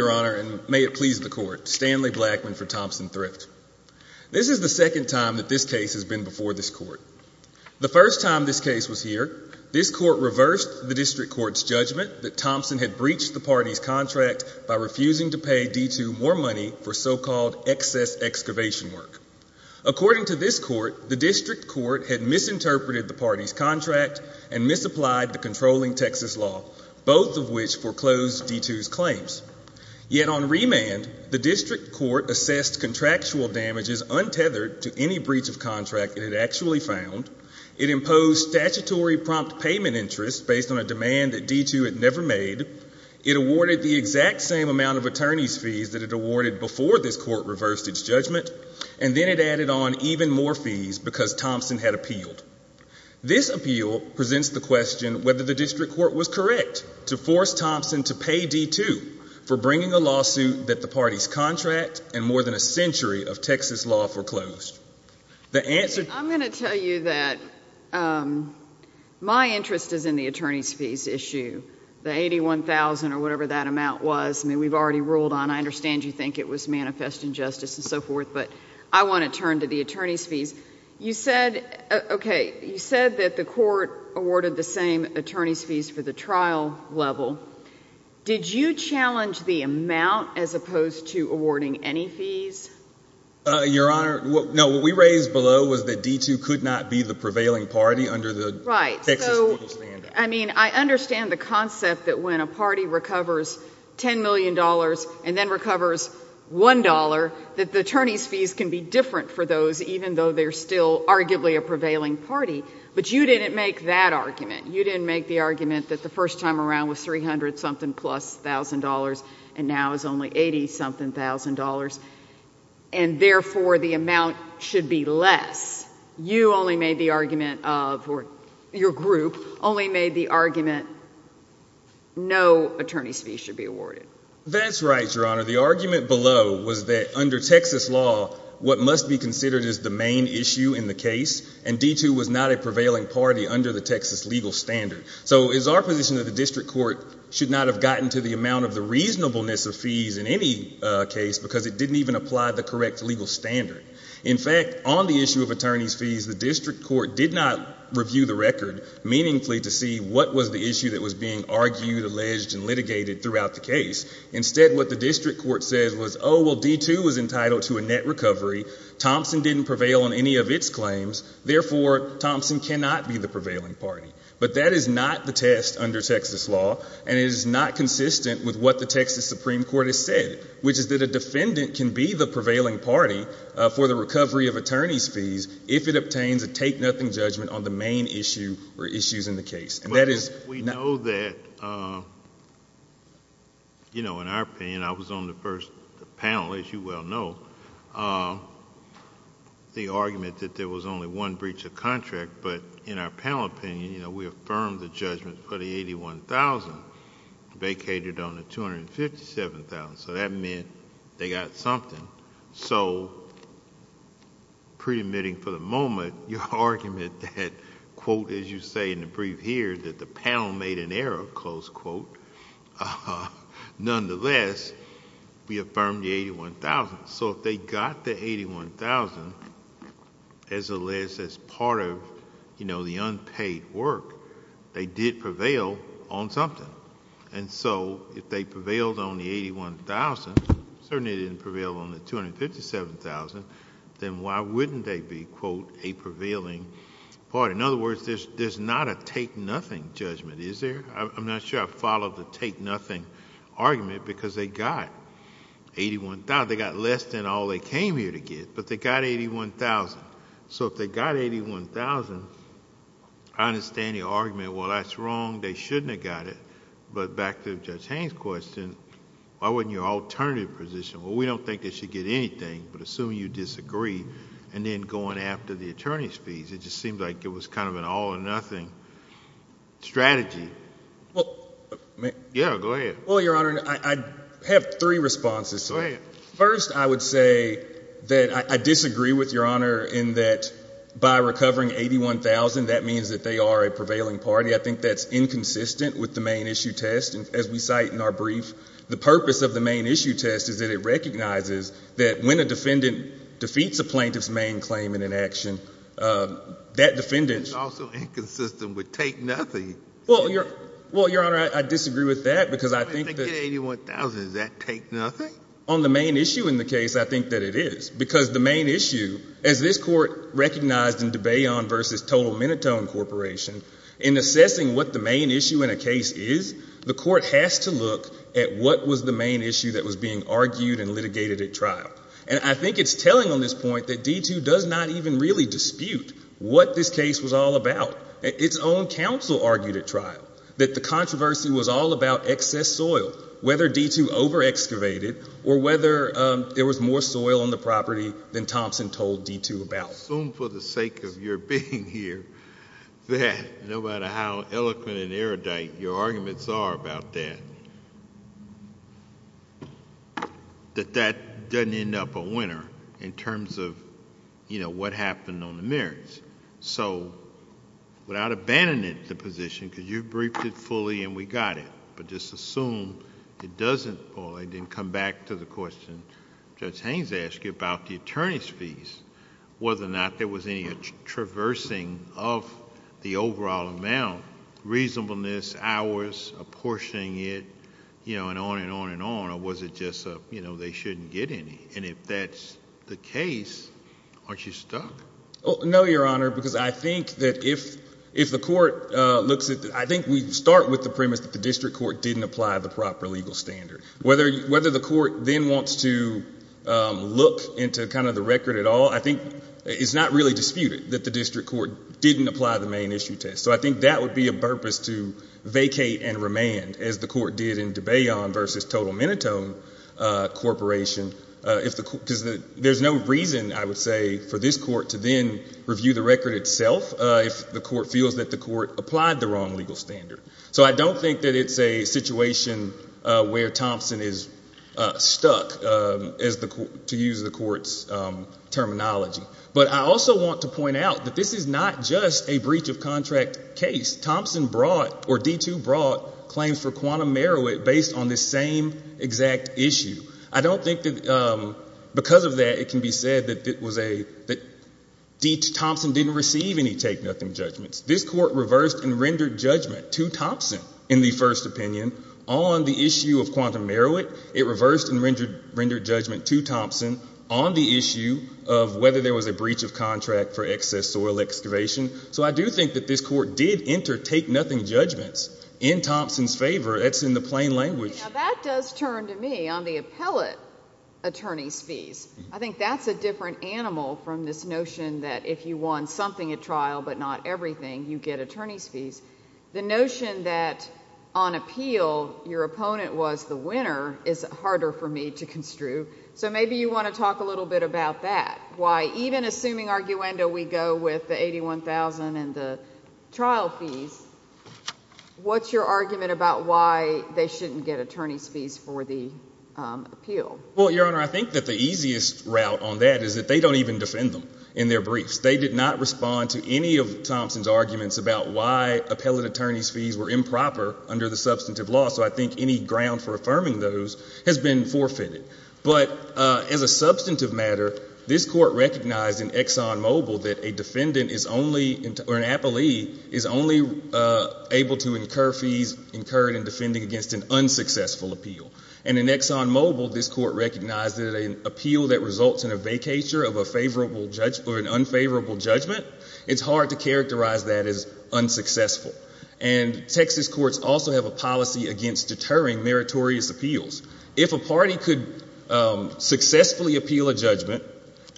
Your Honor, and may it please the Court, Stanley Blackman for Thompson Thrift. This is the second time that this case has been before this Court. The first time this case was here, this Court reversed the District Court's judgment that Thompson had breached the party's contract by refusing to pay D2 more money for so-called excess excavation work. According to this Court, the District Court had misinterpreted the party's contract and misapplied the controlling Texas law, both of which foreclosed D2's claims. Yet on remand, the District Court assessed contractual damages untethered to any breach of contract it had actually found. It imposed statutory prompt payment interest based on a demand that D2 had never made. It awarded the exact same amount of attorney's fees that it awarded before this Court reversed its judgment. And then it added on even more fees because Thompson had appealed. This appeal presents the question whether the District Court was correct to force Thompson to pay D2 for bringing a lawsuit that the party's contract and more than a century of Texas law foreclosed. The answer— I'm going to tell you that my interest is in the attorney's fees issue, the $81,000 or whatever that amount was. I mean, we've already ruled on it. I understand you think it was manifest injustice and so forth, but I want to turn to the attorney's fees. You said, okay, you said that the Court awarded the same attorney's fees for the trial level. Did you challenge the amount as opposed to awarding any fees? Your Honor, no. What we raised below was that D2 could not be the prevailing party under the Texas legal standard. Right. So, I mean, I understand the concept that when a party recovers $10 million and then they're still arguably a prevailing party, but you didn't make that argument. You didn't make the argument that the first time around was $300-something-plus-thousand-dollars and now it's only $80-something-thousand-dollars, and therefore the amount should be less. You only made the argument of—or your group only made the argument no attorney's fees should be awarded. That's right, Your Honor. The argument below was that under Texas law, what must be considered as the main issue in the case, and D2 was not a prevailing party under the Texas legal standard. So it's our position that the District Court should not have gotten to the amount of the reasonableness of fees in any case because it didn't even apply the correct legal standard. In fact, on the issue of attorney's fees, the District Court did not review the record meaningfully to see what was the issue that was being argued, alleged, and litigated throughout the case. Instead, what the District Court said was, oh, well, D2 was entitled to a net recovery. Thompson didn't prevail on any of its claims. Therefore, Thompson cannot be the prevailing party. But that is not the test under Texas law, and it is not consistent with what the Texas Supreme Court has said, which is that a defendant can be the prevailing party for the recovery of attorney's fees if it obtains a take-nothing judgment on the main issue or issues in the case. And that is... We know that, in our opinion, I was on the first panel, as you well know, the argument that there was only one breach of contract, but in our panel opinion, we affirmed the judgment for the $81,000 vacated on the $257,000, so that meant they got something. So, pre-admitting for the moment, your argument that, quote, as you say in the brief here, that the panel made an error, close quote, nonetheless, we affirmed the $81,000. So if they got the $81,000, as a list, as part of the unpaid work, they did prevail on something. And so, if they prevailed on the $81,000, certainly they didn't prevail on the $257,000, then why wouldn't they be, quote, a prevailing party? In other words, there's not a take-nothing judgment, is there? I'm not sure I followed the take-nothing argument, because they got $81,000. They got less than all they came here to get, but they got $81,000. So if they got $81,000, I understand your argument, well, that's wrong. They shouldn't have got it. But back to Judge Haines' question, why wasn't your alternative position, well, we don't think they should get anything, but assuming you disagree, and then going after the attorney's fees, it just seemed like it was kind of an all-or-nothing strategy. Yeah, go ahead. Well, Your Honor, I have three responses. Go ahead. First, I would say that I disagree with Your Honor in that by recovering $81,000, that means that they are a prevailing party. I think that's inconsistent with the main issue test, and as we cite in our brief, the purpose of the main issue test is that it recognizes that when a defendant defeats a plaintiff's main claim in an action, that defendant's… It's also inconsistent with take-nothing. Well, Your Honor, I disagree with that, because I think that… If they get $81,000, does that take nothing? On the main issue in the case, I think that it is, because the main issue, as this Court recognized in de Bayon v. Total Minotone Corporation, in assessing what the main issue in a case is, the Court has to look at what was the main issue that was being argued and litigated at trial. And I think it's telling on this point that D2 does not even really dispute what this case was all about. Its own counsel argued at trial that the controversy was all about excess soil, whether D2 over-excavated or whether there was more soil on the property than Thompson told D2 about. Assume for the sake of your being here that, no matter how eloquent and erudite your arguments are about that, that that doesn't end up a winner in terms of what happened on the merits. So without abandoning the position, because you briefed it fully and we got it, but just back to the question Judge Haynes asked you about the attorney's fees, whether or not there was any traversing of the overall amount, reasonableness, hours, apportioning it, you know, and on and on and on, or was it just a, you know, they shouldn't get any? And if that's the case, aren't you stuck? No, Your Honor, because I think that if the Court looks at, I think we start with the premise that the district court didn't apply the proper legal standard. Whether the Court then wants to look into kind of the record at all, I think it's not really disputed that the district court didn't apply the main issue test. So I think that would be a purpose to vacate and remand, as the Court did in DeBayon versus Total Minotone Corporation, because there's no reason, I would say, for this Court to then review the record itself if the Court feels that the Court applied the wrong legal standard. So I don't think that it's a situation where Thompson is stuck, to use the Court's terminology. But I also want to point out that this is not just a breach of contract case. Thompson brought, or D2 brought, claims for Quantum Meroweth based on this same exact issue. I don't think that because of that, it can be said that Thompson didn't receive any take-nothing judgments. This Court reversed and rendered judgment to Thompson in the first opinion on the issue of Quantum Meroweth. It reversed and rendered judgment to Thompson on the issue of whether there was a breach of contract for excess soil excavation. So I do think that this Court did enter take-nothing judgments in Thompson's favor. That's in the plain language. That does turn to me on the appellate attorney's fees. I think that's a different animal from this notion that if you won something at trial but not everything, you get attorney's fees. The notion that on appeal, your opponent was the winner is harder for me to construe. So maybe you want to talk a little bit about that. Why even assuming arguendo we go with the $81,000 and the trial fees, what's your argument about why they shouldn't get attorney's fees for the appeal? Well, Your Honor, I think that the easiest route on that is that they don't even defend them in their briefs. They did not respond to any of Thompson's arguments about why appellate attorney's fees were improper under the substantive law. So I think any ground for affirming those has been forfeited. But as a substantive matter, this Court recognized in ExxonMobil that an appellee is only able to incur fees incurred in defending against an unsuccessful appeal. And in ExxonMobil, this Court recognized that an appeal that results in a vacatur of an unfavorable judgment, it's hard to characterize that as unsuccessful. And Texas courts also have a policy against deterring meritorious appeals. If a party could successfully appeal a judgment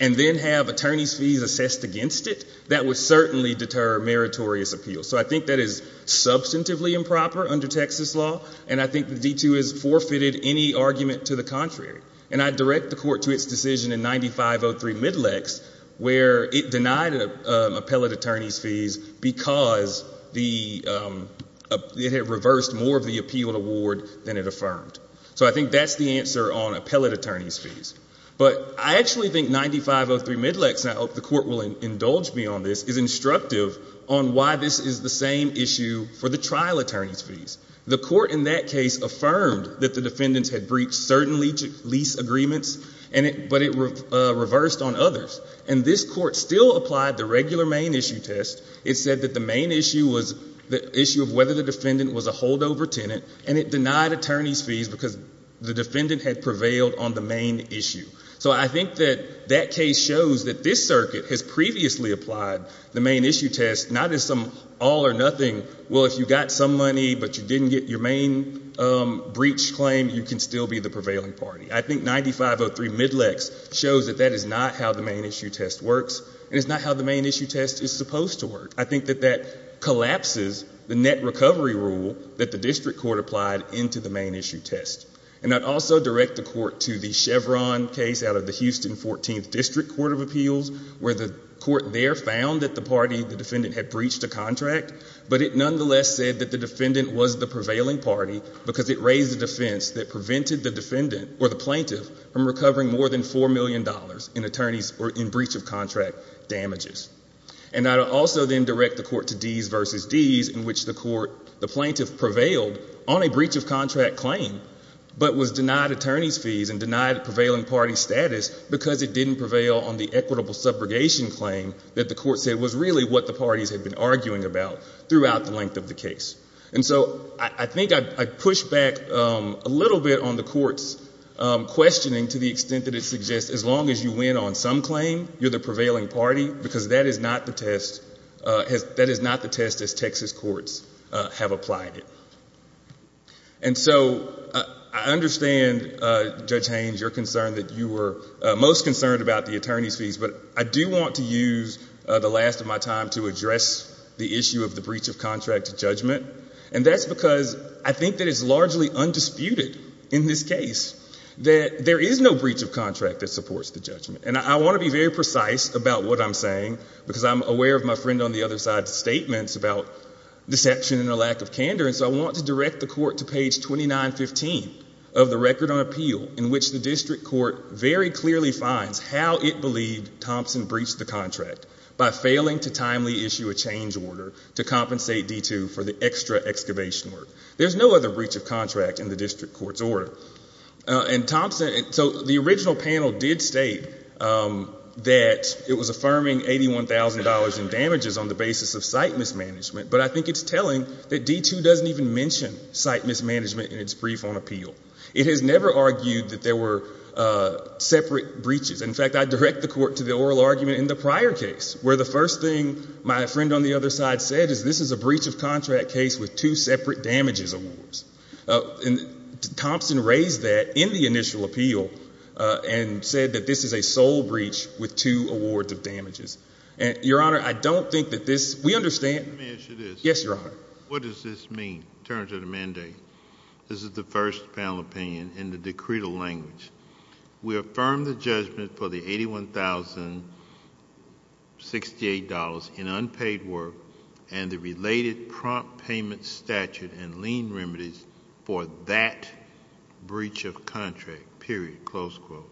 and then have attorney's fees assessed against it, that would certainly deter meritorious appeals. So I think that is substantively improper under Texas law. And I think the D2 has forfeited any argument to the contrary. And I direct the Court to its decision in 9503 Midlax where it denied appellate attorney's fees because it had reversed more of the appealed award than it affirmed. So I think that's the answer on appellate attorney's fees. But I actually think 9503 Midlax, and I hope the Court will indulge me on this, is instructive on why this is the same issue for the trial attorney's fees. The Court in that case affirmed that the defendants had breached certain lease agreements, but it reversed on others. And this Court still applied the regular main issue test. It said that the main issue was the issue of whether the defendant was a holdover tenant, and it denied attorney's fees because the defendant had prevailed on the main issue. So I think that that case shows that this circuit has previously applied the main issue test, not as some all or nothing. Well, if you got some money but you didn't get your main breach claim, you can still be the prevailing party. I think 9503 Midlax shows that that is not how the main issue test works, and it's not how the main issue test is supposed to work. I think that that collapses the net recovery rule that the district court applied into the main issue test. And I'd also direct the Court to the Chevron case out of the Houston 14th District Court of Appeals where the Court there found that the party, the defendant, had breached a contract, but it nonetheless said that the defendant was the prevailing party because it raised a defense that prevented the defendant or the plaintiff from recovering more than $4 million in attorneys or in breach of contract damages. And I'd also then direct the Court to Dees v. Dees in which the plaintiff prevailed on a breach of contract claim but was denied attorney's fees and denied prevailing party status because it didn't prevail on the equitable subrogation claim that the Court said was really what the parties had been arguing about throughout the length of the case. And so I think I'd push back a little bit on the Court's questioning to the extent that it suggests as long as you win on some claim, you're the prevailing party because that is not the test as Texas courts have applied it. And so I understand, Judge Haynes, your concern that you were most concerned about the attorney's views the last of my time to address the issue of the breach of contract judgment. And that's because I think that it's largely undisputed in this case that there is no breach of contract that supports the judgment. And I want to be very precise about what I'm saying because I'm aware of my friend on the other side's statements about deception and a lack of candor, and so I want to direct the Court to page 2915 of the Record on Appeal in which the district court very clearly finds how it believed Thompson breached the contract by failing to timely issue a change order to compensate D2 for the extra excavation work. There's no other breach of contract in the district court's order. And Thompson, so the original panel did state that it was affirming $81,000 in damages on the basis of site mismanagement, but I think it's telling that D2 doesn't even mention site mismanagement in its brief on appeal. It has never argued that there were separate breaches. In fact, I direct the Court to the oral argument in the prior case where the first thing my friend on the other side said is this is a breach of contract case with two separate damages awards. Thompson raised that in the initial appeal and said that this is a sole breach with two awards of damages. Your Honor, I don't think that this, we understand. Let me ask you this. Yes, Your Honor. What does this mean in terms of the mandate? Okay. This is the first panel opinion in the decretal language. We affirm the judgment for the $81,068 in unpaid work and the related prompt payment statute and lien remedies for that breach of contract, period, close quote.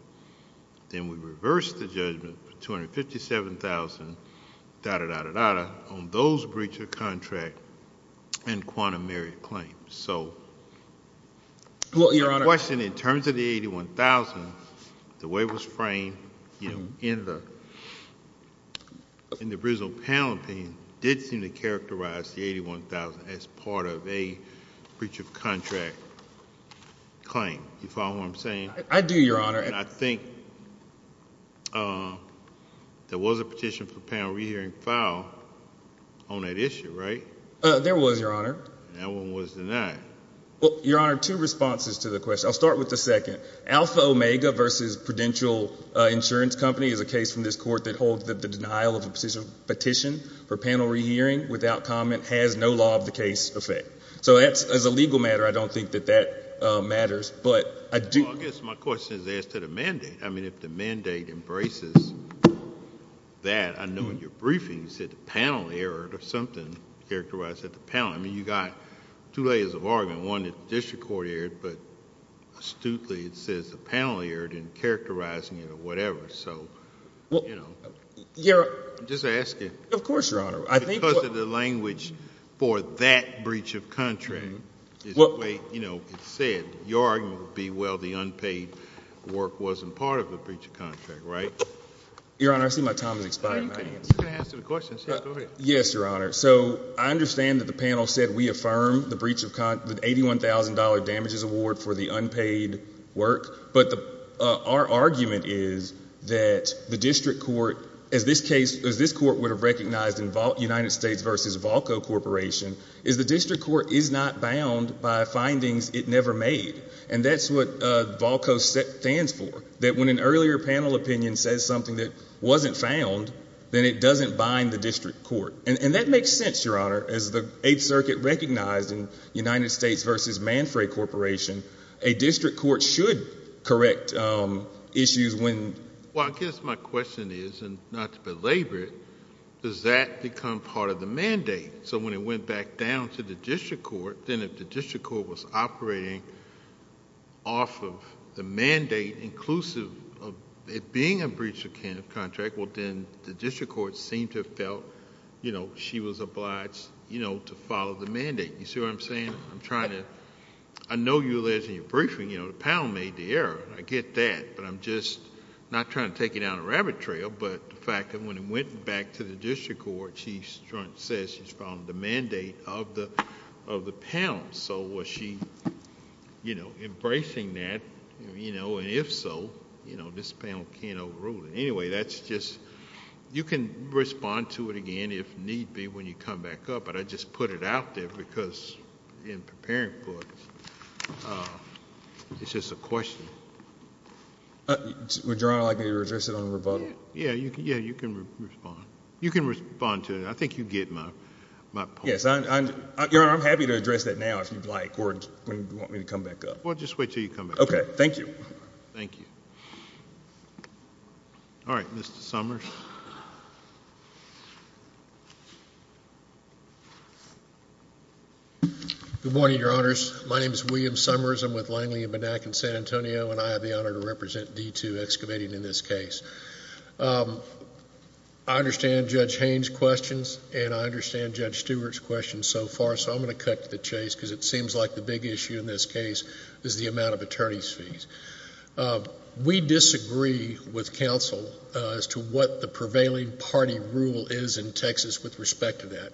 Then we reverse the judgment for $257,000 on those breach of contract and quantum merit claims. Your Honor. My question in terms of the $81,000, the way it was framed in the original panel opinion did seem to characterize the $81,000 as part of a breach of contract claim. Do you follow what I'm saying? I do, Your Honor. I think there was a petition for a panel re-hearing file on that issue, right? There was, Your Honor. That one was denied. Well, Your Honor, two responses to the question. I'll start with the second. Alpha Omega versus Prudential Insurance Company is a case from this court that holds that the denial of a petition for panel re-hearing without comment has no law of the case effect. So that's, as a legal matter, I don't think that that matters, but I do... Well, I guess my question is as to the mandate. I mean, if the mandate embraces that, I know in your briefing you said the panel errored or something characterized that the panel... I mean, you got two layers of argument. One that the district court erred, but astutely it says the panel erred in characterizing it or whatever. So, you know... Well, Your... I'm just asking. Of course, Your Honor. I think what... Because of the language for that breach of contract is the way, you know, it's said. Your argument would be, well, the unpaid work wasn't part of the breach of contract, right? Your Honor, I see my time is expiring. You can answer the questions. Yeah, go ahead. Yes, Your Honor. So, I understand that the panel said we affirm the breach of... the $81,000 damages award for the unpaid work, but the... our argument is that the district court, as this case... as this court would have recognized in United States v. Valco Corporation, is the district court is not bound by findings it never made, and that's what Valco stands for, that when an earlier panel opinion says something that wasn't found, then it doesn't bind the district court. And that makes sense, Your Honor. As the Eighth Circuit recognized in United States v. Manfrey Corporation, a district court should correct issues when... Well, I guess my question is, and not to belabor it, does that become part of the mandate? So when it went back down to the district court, then if the district court was operating off of the mandate inclusive of it being a breach of contract, well, then the district court seemed to have felt, you know, she was obliged, you know, to follow the mandate. You see what I'm saying? I'm trying to... I know you alleged in your briefing, you know, the panel made the error, and I get that, but I'm just not trying to take you down a rabbit trail, but the fact that when it went back to the district court, Chief Strunk says she's following the mandate of the panel. So was she, you know, embracing that, you know, and if so, you know, this panel can't overrule it. Anyway, that's just... you can respond to it again if need be when you come back up, but I just put it out there because in preparing for it, it's just a question. Would Your Honor like me to address it on rebuttal? Yeah, you can respond. You can respond to it. I think you get my point. Yes, Your Honor, I'm happy to address that now if you'd like or if you want me to come back up. Well, just wait until you come back up. Okay. Thank you. All right. Mr. Summers. Good morning, Your Honors. My name is William Summers. I'm with Langley & Benack in San Antonio, and I have the honor to represent D2 Excavating in this case. I understand Judge Haynes' questions, and I understand Judge Stewart's questions so far, so I'm going to cut to the chase because it seems like the big issue in this case is the amount of attorneys' fees. We disagree with counsel as to what the prevailing party rule is in Texas with respect to that.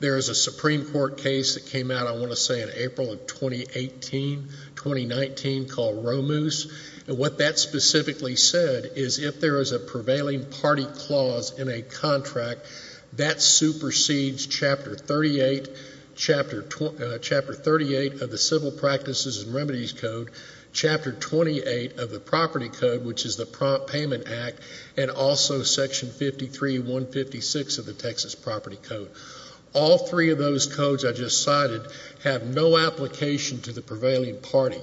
There is a Supreme Court case that came out, I want to say, in April of 2018, 2019, called Romoose. And what that specifically said is if there is a prevailing party clause in a contract, that supersedes Chapter 38 of the Civil Practices and Remedies Code, Chapter 28 of the Property Code, which is the Prompt Payment Act, and also Section 53-156 of the Texas Property Code. All three of those codes I just cited have no application to the prevailing party.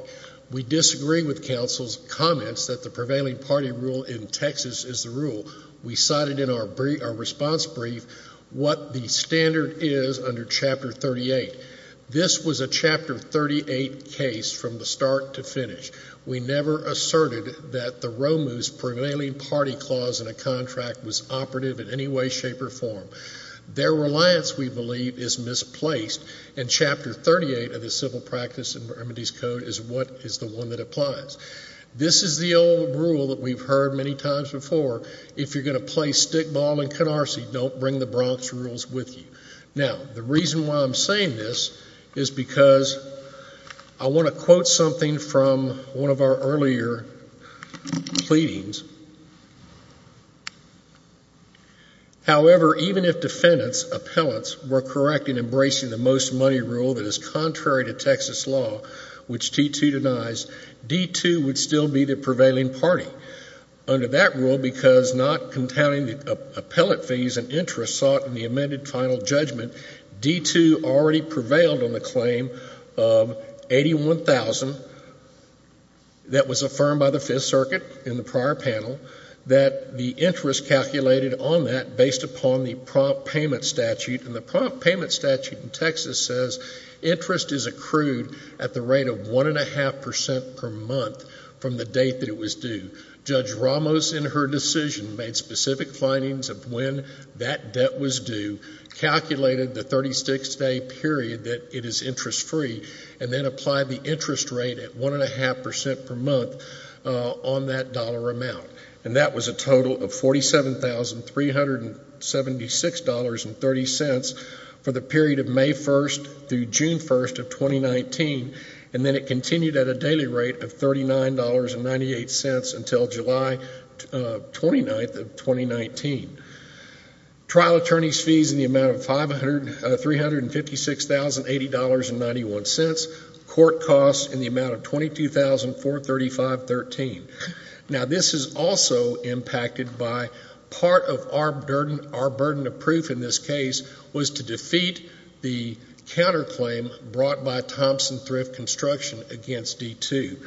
We disagree with counsel's comments that the prevailing party rule in Texas is the rule. We cited in our response brief what the standard is under Chapter 38. This was a Chapter 38 case from the start to finish. We never asserted that the Romoose prevailing party clause in a contract was operative in any way, shape, or form. Their reliance, we believe, is misplaced, and Chapter 38 of the Civil Practices and Remedies Code is the one that applies. This is the old rule that we've heard many times before. If you're going to play stickball in Canarsie, don't bring the Bronx rules with you. Now, the reason why I'm saying this is because I want to quote something from one of our earlier pleadings. However, even if defendants, appellants, were correct in embracing the most money rule that is contrary to Texas law, which D-2 denies, D-2 would still be the prevailing party. Under that rule, because not containing the appellate fees and interest sought in the amended final judgment, D-2 already prevailed on the claim of $81,000 that was affirmed by the Fifth Circuit in the prior panel, that the interest calculated on that based upon the prompt payment statute, and the prompt payment statute in Texas says interest is accrued at the rate of one and a half percent per month from the date that it was due. Judge Ramos, in her decision, made specific findings of when that debt was due, calculated the 36-day period that it is interest-free, and then applied the interest rate at one and a half percent per month on that dollar amount. And that was a total of $47,376.30 for the period of May 1st through June 1st of 2019, and then it continued at a daily rate of $39.98 until July 29th of 2019. Trial attorneys fees in the amount of $356,080.91, court costs in the amount of $22,435.13. Now, this is also impacted by part of our burden of proof in this case was to defeat the counterclaim brought by Thompson Thrift Construction against D-2.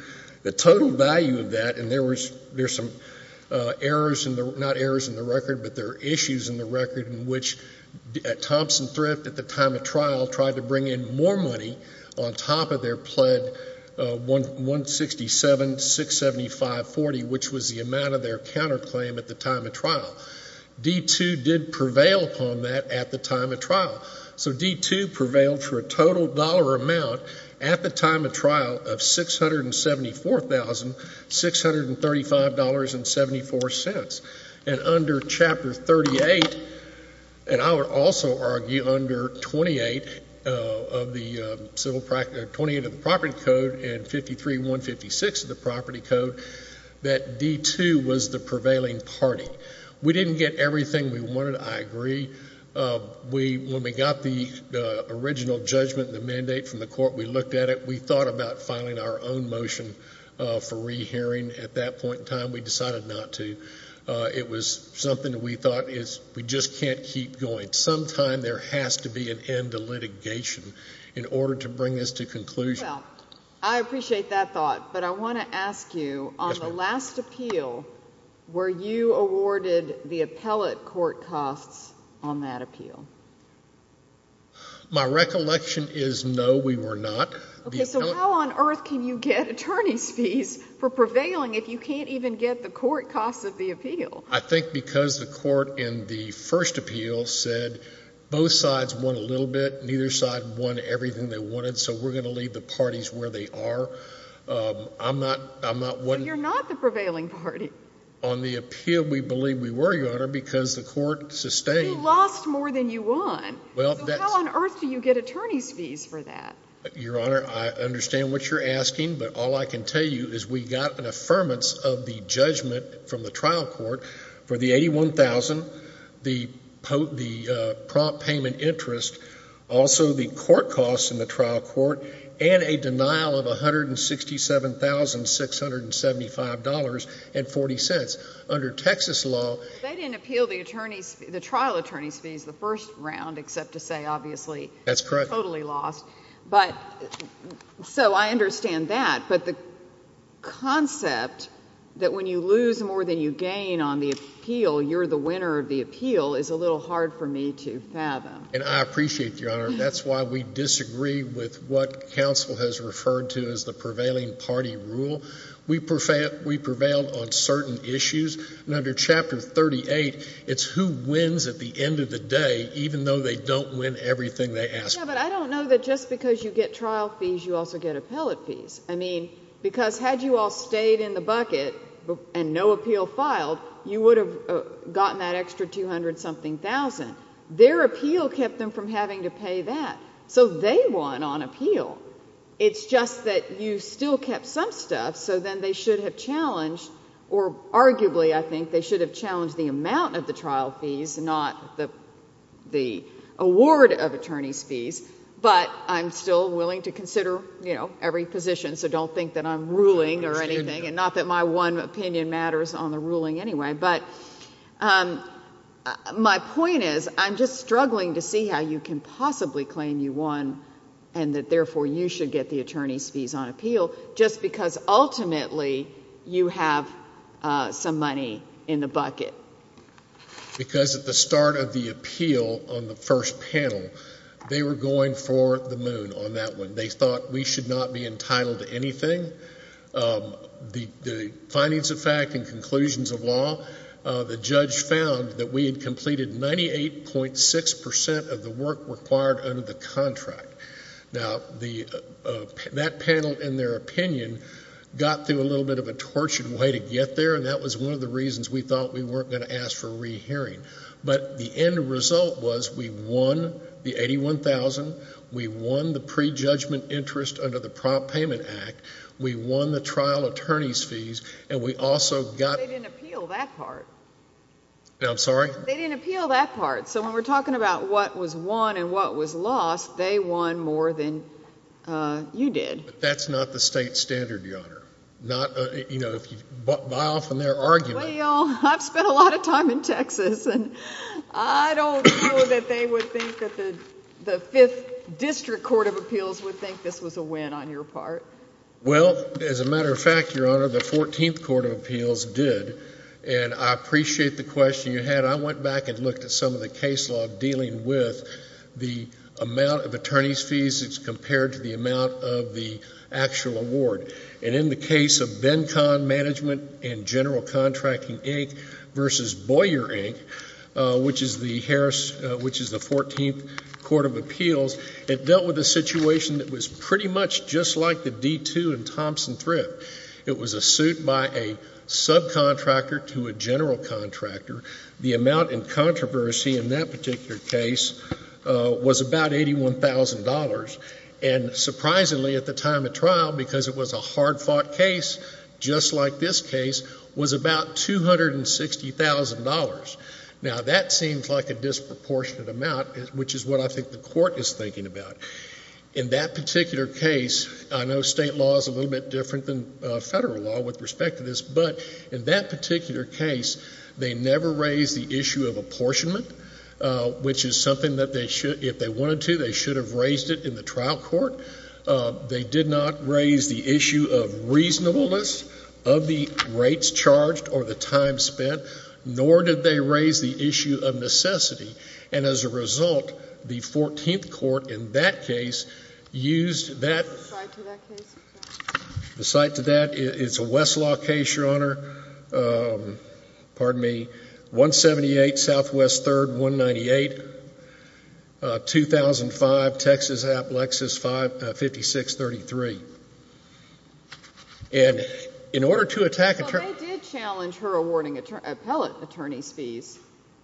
The total value of that, and there's some errors in the record, not errors in the record, but there are issues in the record in which Thompson Thrift, at the time of trial, tried to bring in more money on top of their pled 167,675.40, which was the amount of their counterclaim at the time of trial. D-2 did prevail upon that at the time of trial. So D-2 prevailed for a total dollar amount at the time of trial of $674,635.74. And under Chapter 38, and I would also argue under 28 of the property code and 53-156 of the property code, that D-2 was the prevailing party. We didn't get everything we wanted, I agree. When we got the original judgment and the mandate from the court, we looked at it, we thought about filing our own motion for rehearing at that point in time. We decided not to. It was something that we thought is, we just can't keep going. Sometime there has to be an end to litigation in order to bring this to conclusion. Well, I appreciate that thought, but I want to ask you, on the last appeal, were you awarded the appellate court costs on that appeal? My recollection is no, we were not. Okay, so how on earth can you get attorney's fees for prevailing if you can't even get the court costs of the appeal? I think because the court in the first appeal said both sides won a little bit, neither side won everything they wanted, so we're going to leave the parties where they are. I'm not, I'm not one... So you're not the prevailing party? On the appeal, we believe we were, Your Honor, because the court sustained... You lost more than you won. Well, that's... So how on earth do you get attorney's fees for that? Your Honor, I understand what you're asking, but all I can tell you is we got an from the trial court for the $81,000, the prompt payment interest, also the court costs in the trial court, and a denial of $167,675.40. Under Texas law... They didn't appeal the attorney's, the trial attorney's fees the first round, except to say, obviously... That's correct. Totally lost. So I understand that, but the concept that when you lose more than you gain on the appeal, you're the winner of the appeal is a little hard for me to fathom. And I appreciate, Your Honor, that's why we disagree with what counsel has referred to as the prevailing party rule. We prevailed on certain issues, and under Chapter 38, it's who wins at the end of the day, even though they don't win everything they ask for. But I don't know that just because you get trial fees, you also get appellate fees. I mean, because had you all stayed in the bucket and no appeal filed, you would have gotten that extra $200-something thousand. Their appeal kept them from having to pay that, so they won on appeal. It's just that you still kept some stuff, so then they should have challenged, or arguably, I think, they should have challenged the amount of the trial fees, not the award of attorney's fees. But I'm still willing to consider every position, so don't think that I'm ruling or anything, and not that my one opinion matters on the ruling anyway. But my point is, I'm just struggling to see how you can possibly claim you won, and that therefore you should get the attorney's fees on appeal, just because ultimately you have some money in the bucket. Because at the start of the appeal on the first panel, they were going for the moon on that one. They thought we should not be entitled to anything. The findings of fact and conclusions of law, the judge found that we had completed 98.6% of the work required under the contract. Now, that panel, in their opinion, got through a little bit of a tortured way to get there, and that was one of the reasons we thought we weren't going to ask for rehearing. But the end result was we won the $81,000. We won the prejudgment interest under the Prompt Payment Act. We won the trial attorney's fees, and we also got... They didn't appeal that part. I'm sorry? They didn't appeal that part. So when we're talking about what was won and what was lost, they won more than you did. But that's not the state standard, Your Honor. By often their argument... Well, I've spent a lot of time in Texas, and I don't know that they would think that the 5th District Court of Appeals would think this was a win on your part. Well, as a matter of fact, Your Honor, the 14th Court of Appeals did, and I appreciate the question you had. I went back and looked at some of the case dealing with the amount of attorney's fees compared to the amount of the actual award. And in the case of BenCon Management and General Contracting, Inc. versus Boyer, Inc., which is the 14th Court of Appeals, it dealt with a situation that was pretty much just like the D2 in Thompson Thrift. It was a suit by a subcontractor to a general contractor. The amount in controversy in that particular case was about $81,000. And surprisingly, at the time of trial, because it was a hard-fought case just like this case, was about $260,000. Now, that seems like a disproportionate amount, which is what I think the Court is thinking about. In that particular case, I know state law is a little bit different than federal law with respect to this, but in that particular case, they never raised the issue of apportionment, which is something that if they wanted to, they should have raised it in the trial court. They did not raise the issue of reasonableness of the rates charged or the time spent, nor did they raise the issue of necessity. And as a result, the 14th Court in that case used that as an example. Aside to that, it's a Westlaw case, Your Honor. Pardon me. 178 Southwest 3rd, 198, 2005, Texas App, Lexus 5633. And in order to attack a Well, they did challenge her awarding appellate attorney's fees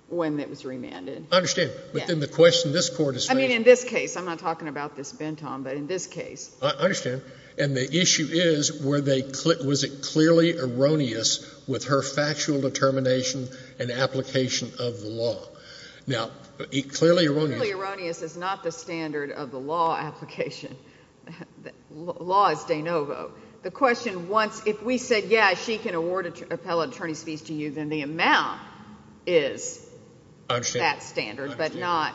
when it was remanded. I understand. But then the question this Court is facing I mean, in this case. I'm not talking about this Benton, but in this case. I understand. And the issue is, was it clearly erroneous with her factual determination and application of the law? Now, clearly erroneous Clearly erroneous is not the standard of the law application. Law is de novo. The question once, if we said, yeah, she can award appellate attorney's fees to you, then the amount is that standard, but not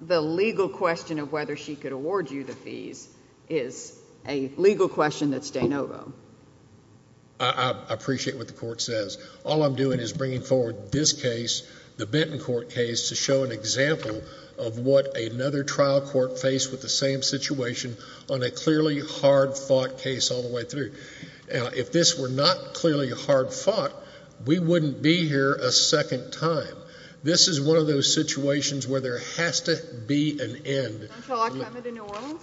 the legal question of whether she awards you the fees is a legal question that's de novo. I appreciate what the Court says. All I'm doing is bringing forward this case, the Benton Court case, to show an example of what another trial court faced with the same situation on a clearly hard-fought case all the way through. If this were not clearly hard-fought, we wouldn't be here a second time. This is one of those situations where there has to be an end. Don't y'all like coming to New Orleans?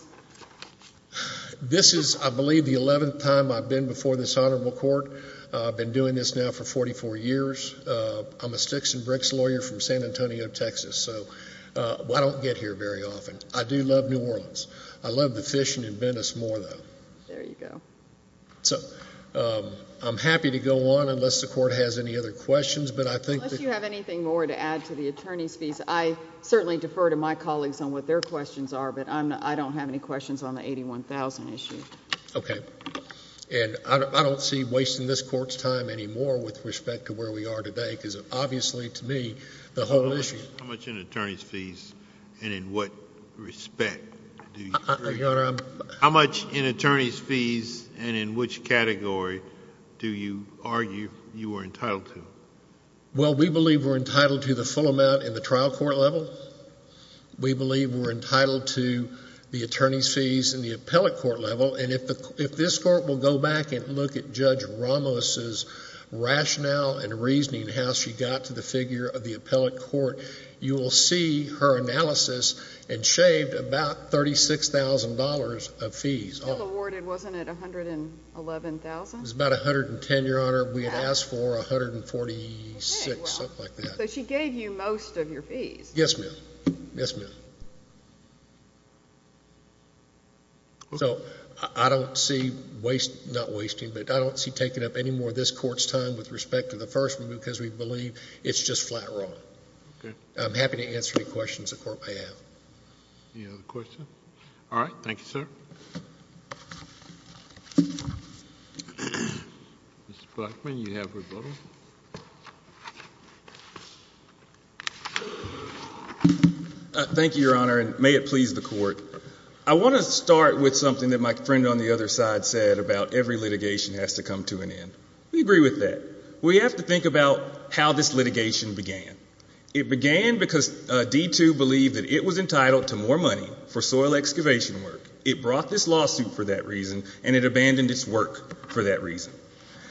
This is, I believe, the 11th time I've been before this Honorable Court. I've been doing this now for 44 years. I'm a Sticks and Bricks lawyer from San Antonio, Texas. So I don't get here very often. I do love New Orleans. I love the fishing in Venice more, though. There you go. So I'm happy to go on unless the Court has any other questions. Unless you have anything more to add to the attorney's fees. I certainly defer to my colleagues on what their questions are, but I don't have any questions on the $81,000 issue. Okay. And I don't see wasting this Court's time anymore with respect to where we are today, because obviously, to me, the whole issue— How much in attorney's fees and in what respect do you agree? Your Honor, I'm— How much in attorney's fees and in which category do you argue you are entitled to? Well, we believe we're entitled to the full amount in the trial court level. We believe we're entitled to the attorney's fees in the appellate court level. And if this Court will go back and look at Judge Ramos's rationale and reasoning, how she got to the figure of the appellate court, you will see her analysis and shaved about $36,000 of fees off. Still awarded, wasn't it, $111,000? It was about $110,000, Your Honor. We had asked for $146,000, something like that. So she gave you most of your fees. Yes, ma'am. Yes, ma'am. So I don't see waste—not wasting, but I don't see taking up any more of this Court's time with respect to the first one because we believe it's just flat wrong. I'm happy to answer any questions the Court may have. Any other questions? All right. Thank you, sir. Mr. Blackman, you have rebuttal. Thank you, Your Honor, and may it please the Court. I want to start with something that my friend on the other side said about every litigation has to come to an end. We agree with that. We have to think about how this litigation began. It began because D2 believed that it was entitled to more money for soil excavation work. It brought this lawsuit for that reason, and it abandoned its work for that reason.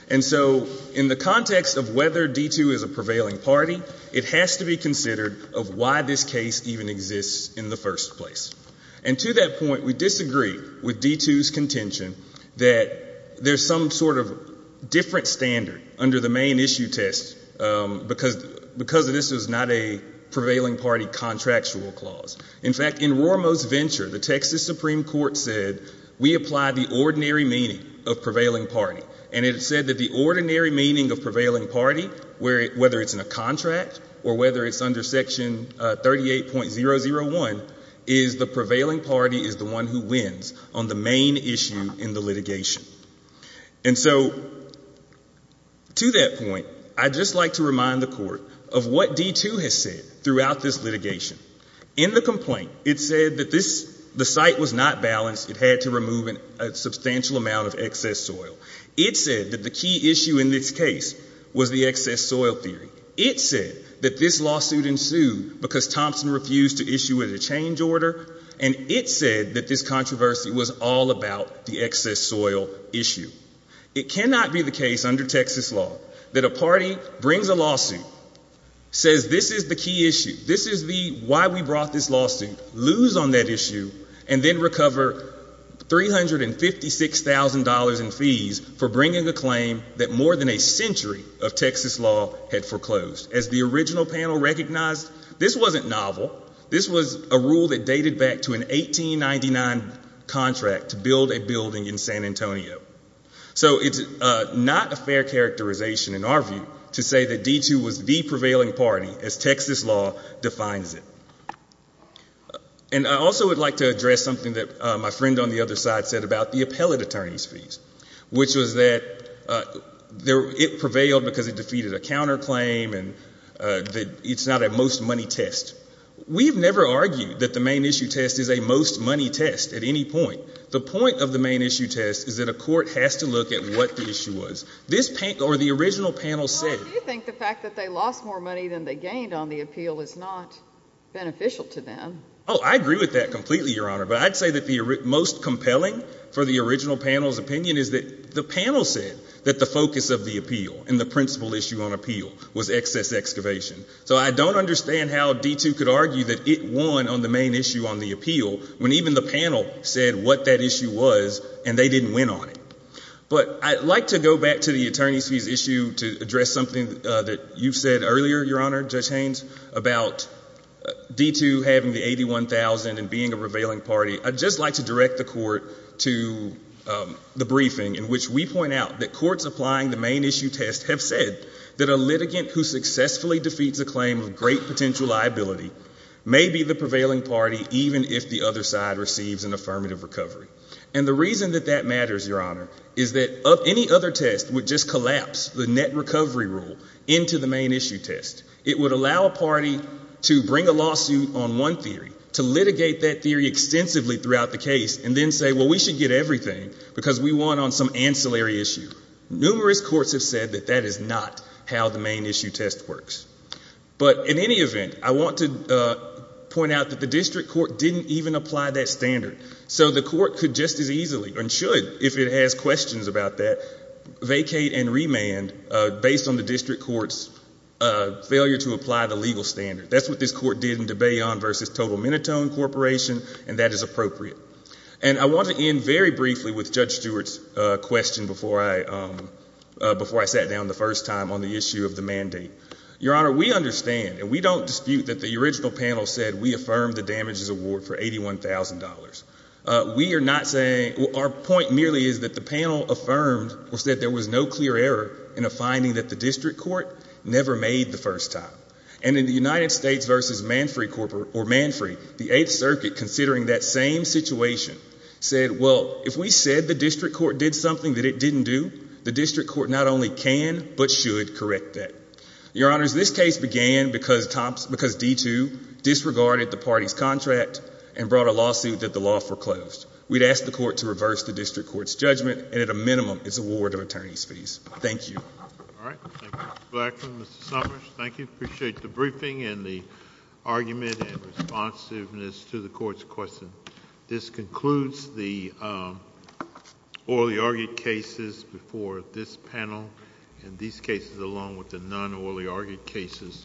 And so in the context of whether D2 is a prevailing party, it has to be considered of why this case even exists in the first place. And to that point, we disagree with D2's contention that there's some sort of different standard under the main issue test because this is not a prevailing party contractual clause. In fact, in Rormo's venture, the Texas Supreme Court said, we apply the ordinary meaning of prevailing party. And it said that the ordinary meaning of prevailing party, whether it's in a contract or whether it's under Section 38.001, is the prevailing party is the one who wins on the main issue in the litigation. And so to that point, I'd just like to remind the Court of what D2 has said throughout this It said that the site was not balanced. It had to remove a substantial amount of excess soil. It said that the key issue in this case was the excess soil theory. It said that this lawsuit ensued because Thompson refused to issue a change order. And it said that this controversy was all about the excess soil issue. It cannot be the case under Texas law that a party brings a lawsuit, says this is the key issue. This is why we brought this lawsuit, lose on that issue, and then recover $356,000 in fees for bringing a claim that more than a century of Texas law had foreclosed. As the original panel recognized, this wasn't novel. This was a rule that dated back to an 1899 contract to build a building in San Antonio. So it's not a fair characterization in our view to say that D2 was the prevailing party as Texas law defines it. And I also would like to address something that my friend on the other side said about the appellate attorney's fees, which was that it prevailed because it defeated a counterclaim and it's not a most money test. We've never argued that the main issue test is a most money test at any point. The point of the main issue test is that a court has to look at what the issue was. This panel, or the original panel said Do you think the fact that they lost more money than they gained on the appeal is not beneficial to them? Oh, I agree with that completely, Your Honor. But I'd say that the most compelling for the original panel's opinion is that the panel said that the focus of the appeal and the principal issue on appeal was excess excavation. So I don't understand how D2 could argue that it won on the main issue on the appeal when even the panel said what that issue was and they didn't win on it. But I'd like to go back to the attorney's fees issue to address something that you said earlier, Your Honor, Judge Haynes, about D2 having the $81,000 and being a prevailing party. I'd just like to direct the court to the briefing in which we point out that courts applying the main issue test have said that a litigant who successfully defeats a claim of great potential liability may be the prevailing party even if the other side receives an affirmative recovery. And the reason that that matters, Your Honor, is that any other test would just collapse the net recovery rule into the main issue test. It would allow a party to bring a lawsuit on one theory, to litigate that theory extensively throughout the case and then say, well, we should get everything because we won on some ancillary issue. Numerous courts have said that that is not how the main issue test works. But in any event, I want to point out that the district court didn't even apply that standard. So the court could just as easily and should, if it has questions about that, vacate and remand based on the district court's failure to apply the legal standard. That's what this court did in De Bayon v. Total Minotone Corporation, and that is appropriate. And I want to end very briefly with Judge Stewart's question before I sat down the first time on the issue of the mandate. Your Honor, we understand and we don't dispute that the original panel said we are not saying, our point merely is that the panel affirmed or said there was no clear error in a finding that the district court never made the first time. And in the United States v. Manfrey, the 8th Circuit, considering that same situation, said, well, if we said the district court did something that it didn't do, the district court not only can but should correct that. Your Honors, this case began because D2 disregarded the party's contract and brought a lawsuit that the law foreclosed. We'd ask the court to reverse the district court's judgment, and at a minimum, its award of attorney's fees. Thank you. All right. Thank you, Mr. Blackman, Mr. Summers. Thank you. Appreciate the briefing and the argument and responsiveness to the court's question. This concludes the orally argued cases before this panel. And these cases, along with the non-orally argued cases,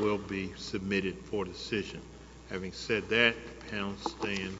will be submitted for decision. Having said that, the panel stand.